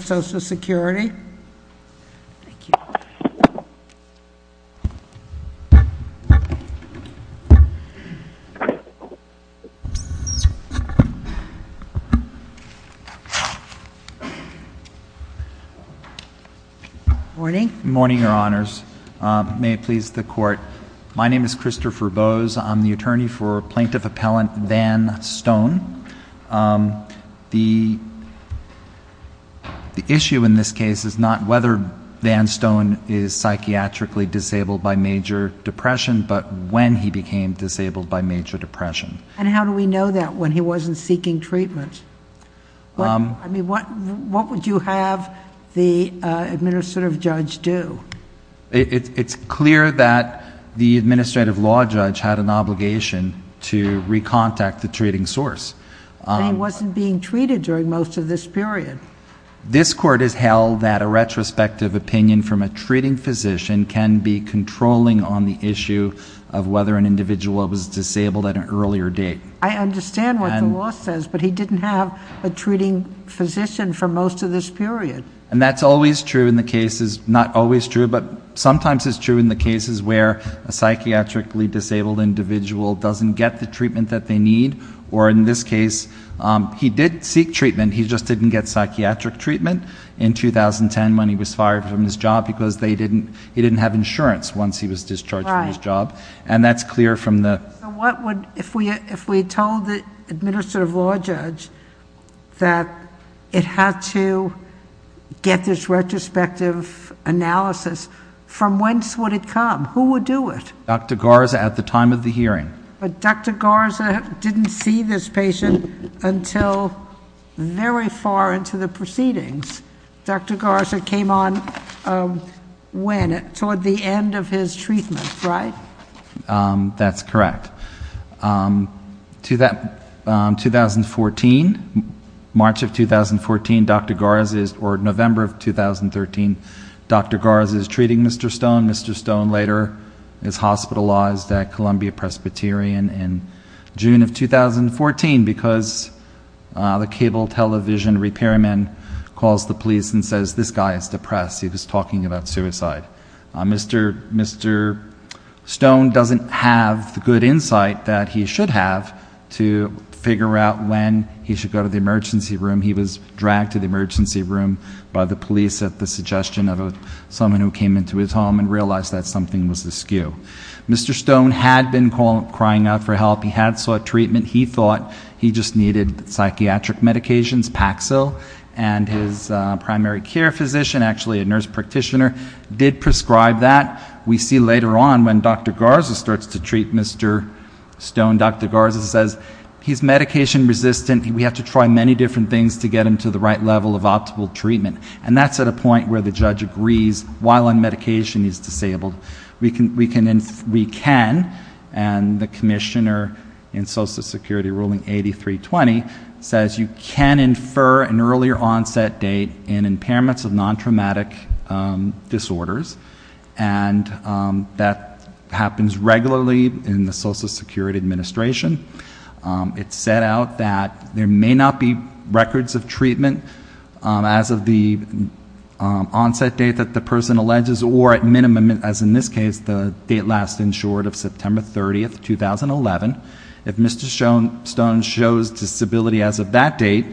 Security. Thank you. Morning. Morning, Your Honors. May it please the Court. My name is Christopher Bose. I'm the attorney for Plaintiff Appellant Van Stone. The issue in this case is not whether Van Stone is psychiatrically disabled by major depression, but when he became disabled by major depression. And how do we know that when he wasn't seeking treatment? I mean, what would you have the administrative judge do? It's clear that the administrative law judge had an obligation to recontact the treating But he wasn't being treated during most of this period. This Court has held that a retrospective opinion from a treating physician can be controlling on the issue of whether an individual was disabled at an earlier date. I understand what the law says, but he didn't have a treating physician for most of this period. And that's always true in the cases, not always true, but sometimes it's true in the cases where a psychiatrically disabled individual doesn't get the treatment that they need. Or in this case, he did seek treatment, he just didn't get psychiatric treatment in 2010 when he was fired from his job because he didn't have insurance once he was discharged from his job. And that's clear from the So what would, if we told the administrative law judge that it had to get this retrospective analysis, from whence would it come? Who would do it? Dr. Garza at the time of the hearing. But Dr. Garza didn't see this patient until very far into the proceedings. Dr. Garza came on when? Toward the end of his treatment, right? That's correct. To that, 2014, March of 2014, Dr. Garza is, or November of 2013, Dr. Garza is treating Mr. Stone. Mr. Stone later is hospitalized at Columbia Presbyterian in June of 2014 because the cable television repairman calls the police and says, this guy is depressed, he was talking about suicide. Mr. Stone doesn't have the good insight that he should have to figure out when he should go to the emergency room. He was dragged to the emergency room by the police at the suggestion of someone who came into his home and realized that something was askew. Mr. Stone had been crying out for help, he had sought treatment, he thought he just needed psychiatric medications, Paxil, and his primary care physician, actually a nurse practitioner, did prescribe that. We see later on when Dr. Garza starts to treat Mr. Stone, Dr. Garza says, he's medication resistant, we have to try many different things to get him to the right level of optimal treatment. And that's at a point where the judge agrees, while on medication, he's disabled. We can, and the commissioner in Social Security ruling 8320 says, you can infer an earlier onset date in impairments of non-traumatic disorders. And that happens regularly in the Social Security Administration. It's set out that there may not be records of treatment as of the onset date that the person alleges or at minimum, as in this case, the date last insured of September 30th, 2011. If Mr. Stone shows disability as of that date,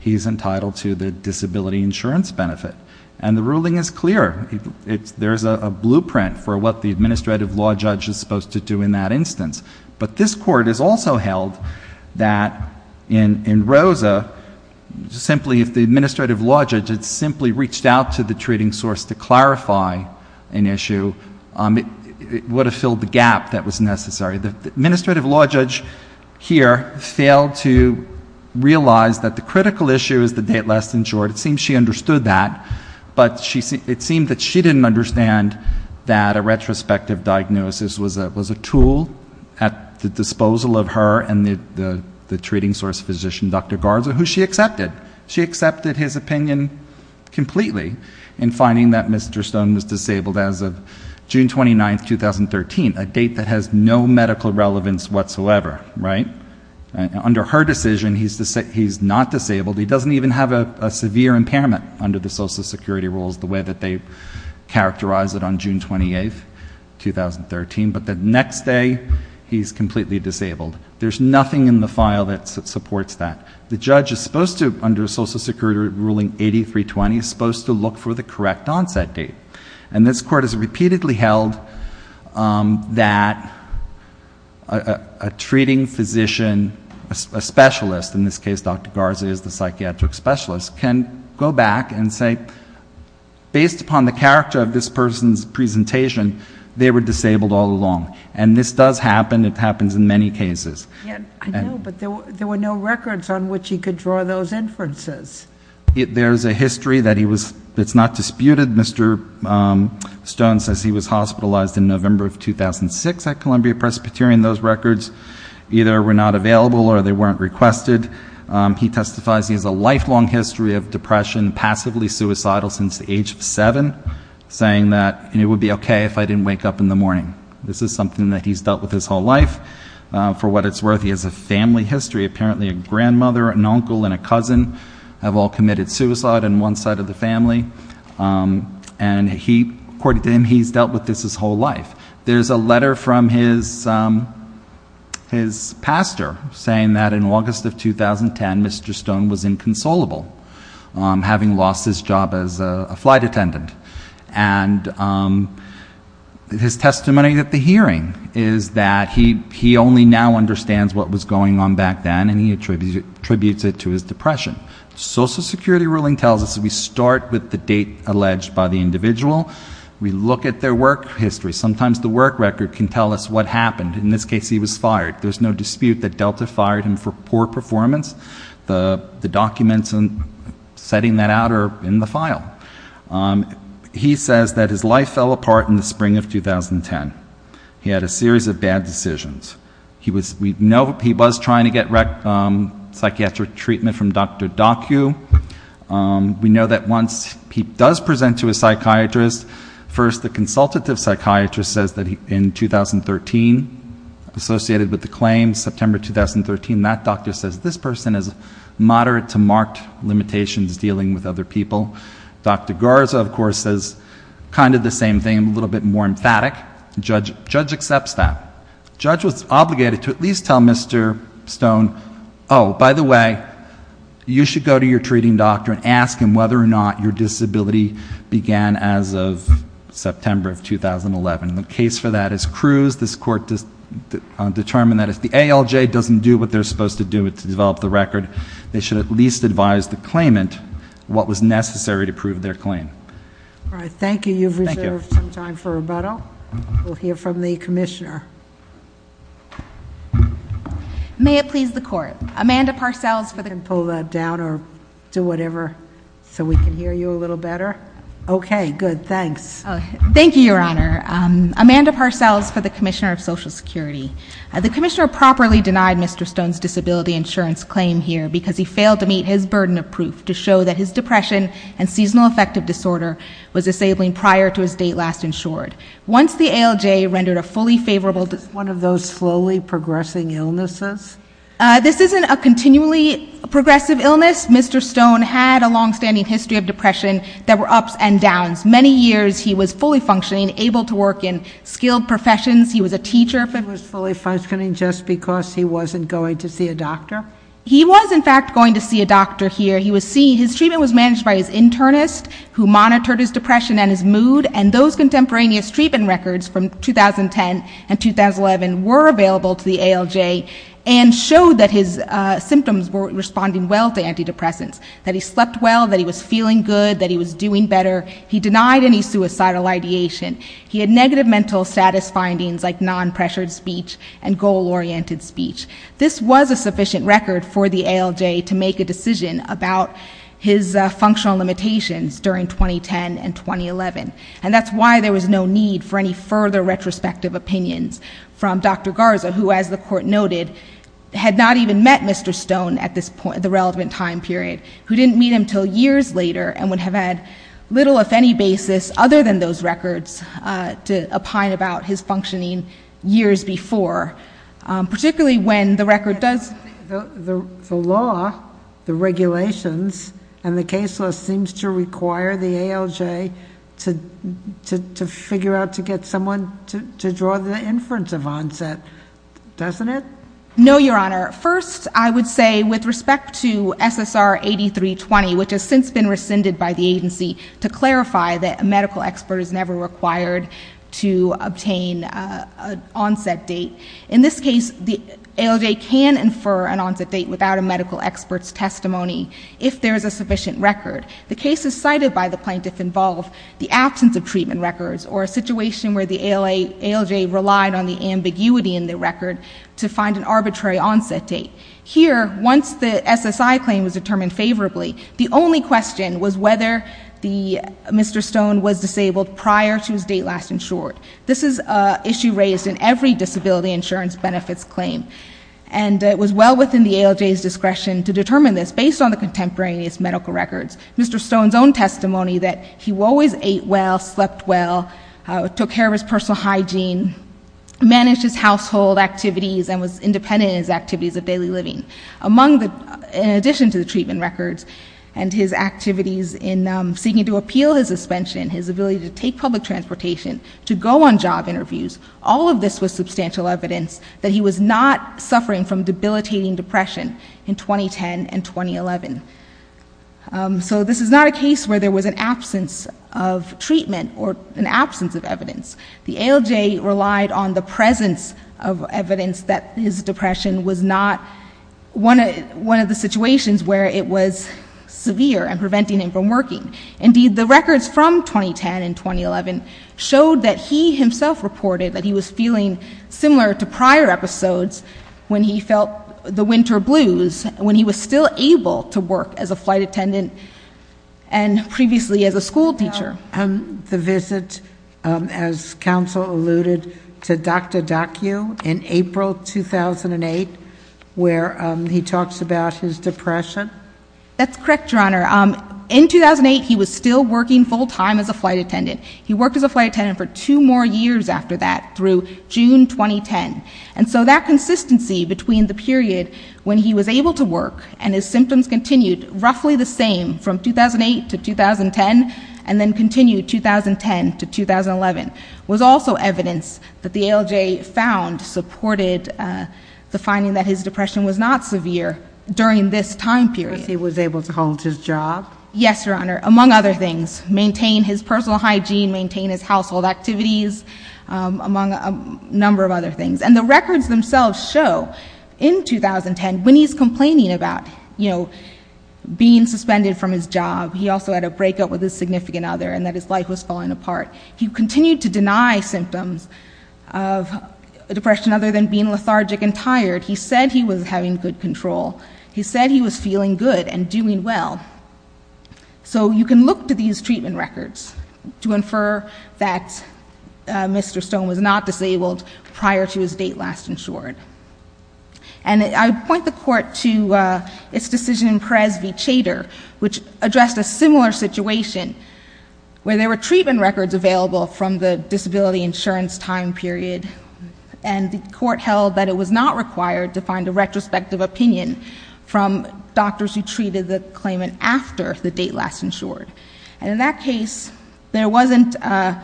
he's entitled to the disability insurance benefit. And the ruling is clear. There's a blueprint for what the administrative law judge is supposed to do in that instance. But this court has also held that in Rosa, simply if the administrative law judge had simply reached out to the treating source to clarify an issue, it would have filled the gap that was necessary. The administrative law judge here failed to realize that the critical issue is the date last insured. It seems she understood that. But it seemed that she didn't understand that a retrospective diagnosis was a tool at the disposal of her and the treating source physician, Dr. Garza, who she accepted. She accepted his opinion completely in finding that Mr. Stone was disabled as of June 29th, 2013, a date that has no medical relevance whatsoever, right? Under her decision, he's not disabled. He doesn't even have a severe impairment under the Social Security rules the way that they characterized it on June 28th, 2013. But the next day, he's completely disabled. There's nothing in the file that supports that. The judge is supposed to, under Social Security ruling 8320, is supposed to look for the correct onset date. And this court has repeatedly held that a treating physician, a specialist, in this case Dr. Garza is the psychiatric specialist, can go back and say, based upon the character of this person's presentation, they were disabled all along. And this does happen. It happens in many cases. I know, but there were no records on which he could draw those inferences. There's a history that he was, that's not disputed. Mr. Stone says he was hospitalized in November of 2006 at Columbia Presbyterian. Those records either were not available or they weren't requested. He testifies he has a lifelong history of depression, passively suicidal since the age of seven, saying that it would be okay if I didn't wake up in the morning. This is something that he's dealt with his whole life. For what it's worth, he has a family history. Apparently a grandmother, an uncle, and a cousin have all committed suicide in one side of the family. And he, according to him, he's dealt with this his whole life. There's a letter from his pastor saying that in August of 2010, Mr. Stone was inconsolable, having lost his job as a flight attendant. And his testimony at the hearing is that he only now understands what was going on back then and he attributes it to his depression. Social Security ruling tells us that we start with the date alleged by the individual. We look at their work history. Sometimes the work record can tell us what happened. In this case, he was fired. There's no dispute that Delta fired him for poor performance. The documents setting that out are in the file. He says that his life fell apart in the spring of 2010. He had a series of bad decisions. We know he was trying to get psychiatric treatment from Dr. Docku. We know that once he does present to a psychiatrist, first the consultative psychiatrist says that in 2013, associated with the claims, September 2013, that doctor says this person has moderate to marked limitations dealing with other people. Dr. Garza, of course, says kind of the same thing, a little bit more emphatic. Judge accepts that. Judge was obligated to at least tell Mr. Stone, by the way, you should go to your treating doctor and ask him whether or not your disability began as of September of 2011. The case for that is Cruz. This court determined that if the ALJ doesn't do what they're supposed to do to develop the record, they should at least advise the claimant what was necessary to prove their claim. All right, thank you. You've reserved some time for rebuttal. We'll hear from the commissioner. May it please the court. Amanda Parcells for the- You can pull that down or do whatever so we can hear you a little better. Okay, good, thanks. Thank you, your honor. Amanda Parcells for the Commissioner of Social Security. The commissioner properly denied Mr. Stone's disability insurance claim here because he failed to meet his burden of proof to show that his depression and seasonal affective disorder was disabling prior to his date last insured. Once the ALJ rendered a fully favorable- One of those slowly progressing illnesses? This isn't a continually progressive illness. Mr. Stone had a long standing history of depression that were ups and downs. Many years he was fully functioning, able to work in skilled professions. He was a teacher. He was fully functioning just because he wasn't going to see a doctor? He was in fact going to see a doctor here. His treatment was managed by his internist who monitored his depression and his mood. And those contemporaneous treatment records from 2010 and 2011 were available to the ALJ. And showed that his symptoms were responding well to antidepressants. That he slept well, that he was feeling good, that he was doing better. He denied any suicidal ideation. He had negative mental status findings like non-pressured speech and goal oriented speech. This was a sufficient record for the ALJ to make a decision about his functional limitations during 2010 and 2011. And that's why there was no need for any further retrospective opinions from Dr. Garza who as the court noted had not even met Mr. Stone at this point, the relevant time period, who didn't meet him until years later. And would have had little if any basis other than those records to opine about his functioning years before. Particularly when the record does. The law, the regulations, and the case law seems to require the ALJ to figure out to get someone to draw the inference of onset, doesn't it? No, your honor. First, I would say with respect to SSR 8320, which has since been rescinded by the agency. To clarify that a medical expert is never required to obtain an onset date. In this case, the ALJ can infer an onset date without a medical expert's testimony if there is a sufficient record. The cases cited by the plaintiff involve the absence of treatment records or a situation where the ALJ relied on the ambiguity in the record to find an arbitrary onset date. Here, once the SSI claim was determined favorably, the only question was whether Mr. Stone was disabled prior to his date last insured. This is an issue raised in every disability insurance benefits claim. And it was well within the ALJ's discretion to determine this based on the contemporaneous medical records. Mr. Stone's own testimony that he always ate well, slept well, took care of his personal hygiene, managed his household activities, and was independent in his activities of daily living. Among the, in addition to the treatment records and his activities in seeking to appeal his suspension, his ability to take public transportation, to go on job interviews, all of this was substantial evidence that he was not suffering from debilitating depression in 2010 and 2011. So this is not a case where there was an absence of treatment or an absence of evidence. The ALJ relied on the presence of evidence that his depression was not one of the situations where it was severe and preventing him from working. Indeed, the records from 2010 and 2011 showed that he himself reported that he was feeling similar to prior episodes when he felt the winter blues, when he was still able to work as a flight attendant and previously as a school teacher. And the visit, as counsel alluded, to Dr. Dacu in April 2008, where he talks about his depression? That's correct, Your Honor. In 2008, he was still working full-time as a flight attendant. He worked as a flight attendant for two more years after that through June 2010. And so that consistency between the period when he was able to work and his symptoms continued roughly the same from 2008 to 2010 and then continued 2010 to 2011 was also evidence that the ALJ found supported the finding that his depression was not severe during this time period. He was able to hold his job? Yes, Your Honor, among other things. Maintain his personal hygiene, maintain his household activities, among a number of other things. And the records themselves show in 2010 when he's complaining about, you know, being suspended from his job. He also had a breakup with his significant other and that his life was falling apart. He continued to deny symptoms of depression other than being lethargic and tired. He said he was having good control. He said he was feeling good and doing well. So you can look to these treatment records to infer that Mr. Stone was not disabled prior to his date last insured. And I point the court to its decision in Perez v. Chater which addressed a similar situation where there were treatment records available from the disability insurance time period and the court held that it was not required to find a retrospective opinion from doctors who treated the claimant after the date last insured. And in that case, there wasn't a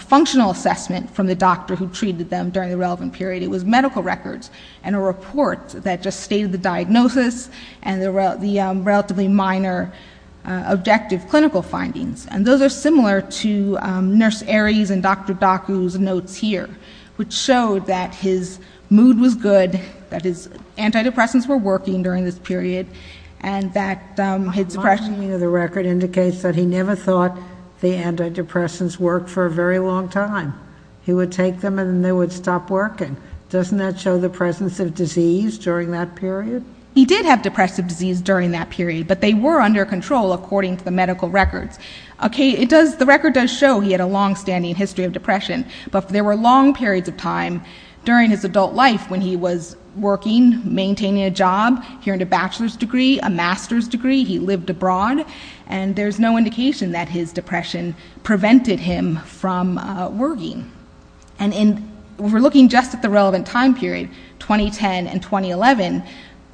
functional assessment from the doctor who treated them during the relevant period. It was medical records and a report that just stated the diagnosis and the relatively minor objective clinical findings. And those are similar to Nurse Aries and Dr. Docu's notes here, which showed that his mood was good, that his antidepressants were working during this period, and that his depression... he would take them and they would stop working. Doesn't that show the presence of disease during that period? He did have depressive disease during that period, but they were under control according to the medical records. Okay, it does, the record does show he had a long-standing history of depression, but there were long periods of time during his adult life when he was working, maintaining a job, he earned a bachelor's degree, a master's degree, he lived abroad, and there's no indication that his depression prevented him from working. And if we're looking just at the relevant time period, 2010 and 2011,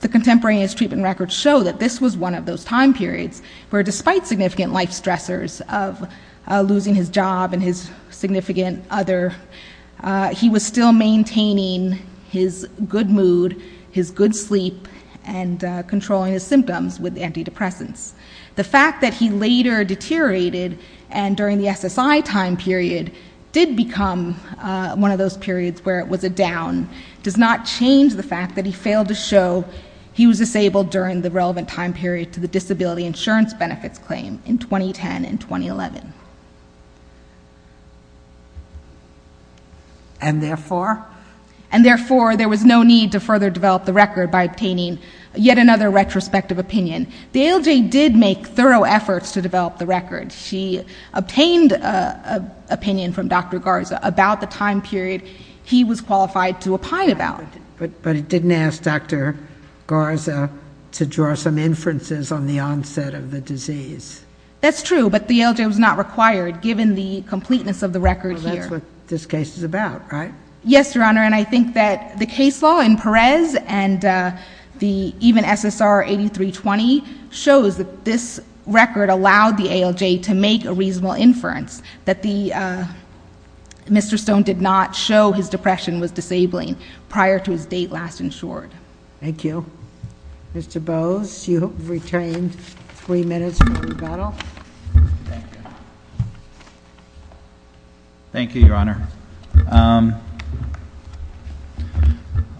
the contemporaneous treatment records show that this was one of those time periods where despite significant life stressors of losing his job and his significant other, he was still maintaining his good mood, his good sleep, and controlling his symptoms with antidepressants. The fact that he later deteriorated and during the SSI time period did become one of those periods where it was a down does not change the fact that he failed to show he was disabled during the relevant time period to the disability insurance benefits claim in 2010 and 2011. And therefore? And therefore, there was no need to further develop the record by obtaining yet another retrospective opinion. The ALJ did make thorough efforts to develop the record. She obtained an opinion from Dr. Garza about the time period he was qualified to opine about. But it didn't ask Dr. Garza to draw some inferences on the onset of the disease. That's true, but the ALJ was not required given the completeness of the record here. Well, that's what this case is about, right? Yes, Your Honor, and I think that the case law in Perez and the even SSR 8320 shows that this record allowed the ALJ to make a reasonable inference that Mr. Stone did not show his depression was disabling prior to his date last insured. Thank you. Mr. Bowes, you have retained three minutes for rebuttal. Thank you, Your Honor.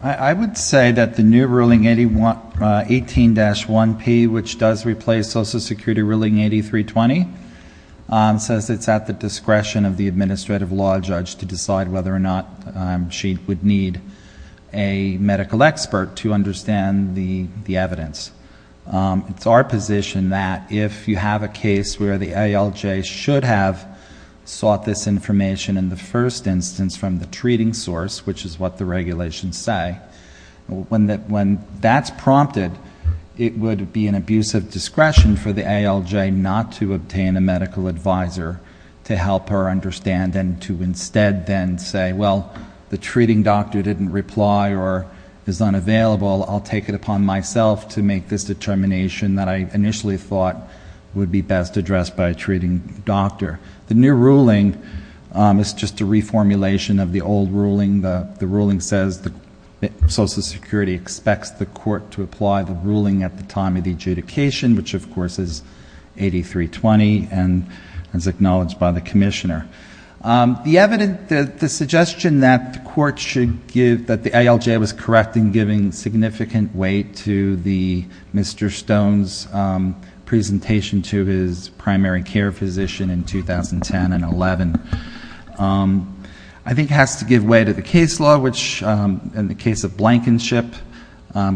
I would say that the new ruling 18-1P, which does replace Social Security ruling 8320, says it's at the discretion of the administrative law judge to decide whether or not she would need a medical expert to understand the evidence. It's our position that if you have a case where the ALJ should have sought this information in the first instance from the treating source, which is what the regulations say, when that's prompted, it would be an abusive discretion for the ALJ not to obtain a medical advisor to help her understand and to instead then say, well, the treating doctor didn't reply or is unavailable. I'll take it upon myself to initially thought would be best addressed by a treating doctor. The new ruling is just a reformulation of the old ruling. The ruling says that Social Security expects the court to apply the ruling at the time of the adjudication, which of course is 8320 and is acknowledged by the commissioner. The evidence that the suggestion that the court should give that the ALJ was giving significant weight to the Mr. Stone's presentation to his primary care physician in 2010 and 11, I think has to give way to the case law, which in the case of Blankenship,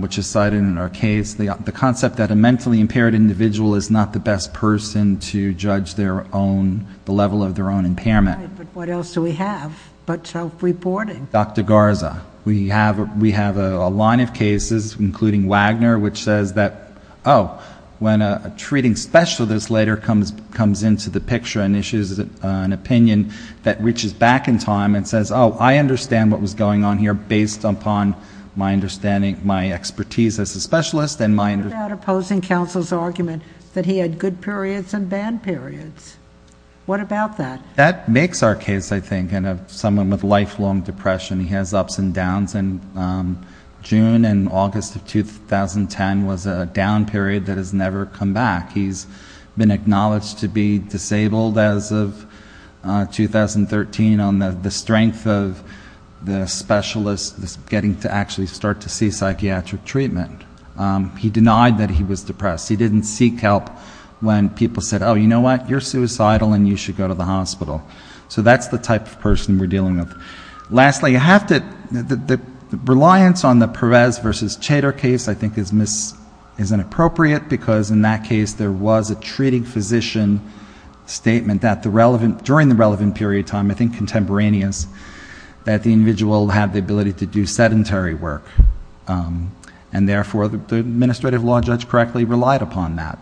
which is cited in our case, the concept that a mentally impaired individual is not the best person to judge the level of their own impairment. But what else do we have but self-reporting? Dr. Garza, we have a line of cases, including Wagner, which says that, oh, when a treating specialist later comes into the picture and issues an opinion that reaches back in time and says, oh, I understand what was going on here based upon my understanding, my expertise as a specialist and my understanding. What about opposing counsel's argument that he had good periods and bad periods? What about that? That makes our case, I think, of someone with lifelong depression. He has ups and downs. And June and August of 2010 was a down period that has never come back. He's been acknowledged to be disabled as of 2013 on the strength of the specialist getting to actually start to see psychiatric treatment. He denied that he was depressed. He didn't seek help when people said, oh, you know what? You're suicidal, and you should go to the hospital. So that's the type of person we're dealing with. Lastly, the reliance on the Perez versus Chater case, I think, is inappropriate, because in that case, there was a treating physician statement during the relevant period of time, I think contemporaneous, that the individual had the ability to do sedentary work. And therefore, the administrative law judge correctly relied upon that.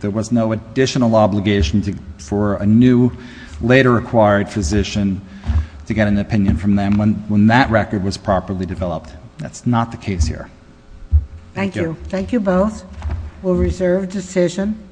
There was no additional obligation for a new, later acquired physician to get an opinion from them when that record was properly developed. That's not the case here. Thank you. Thank you both. We'll reserve decision.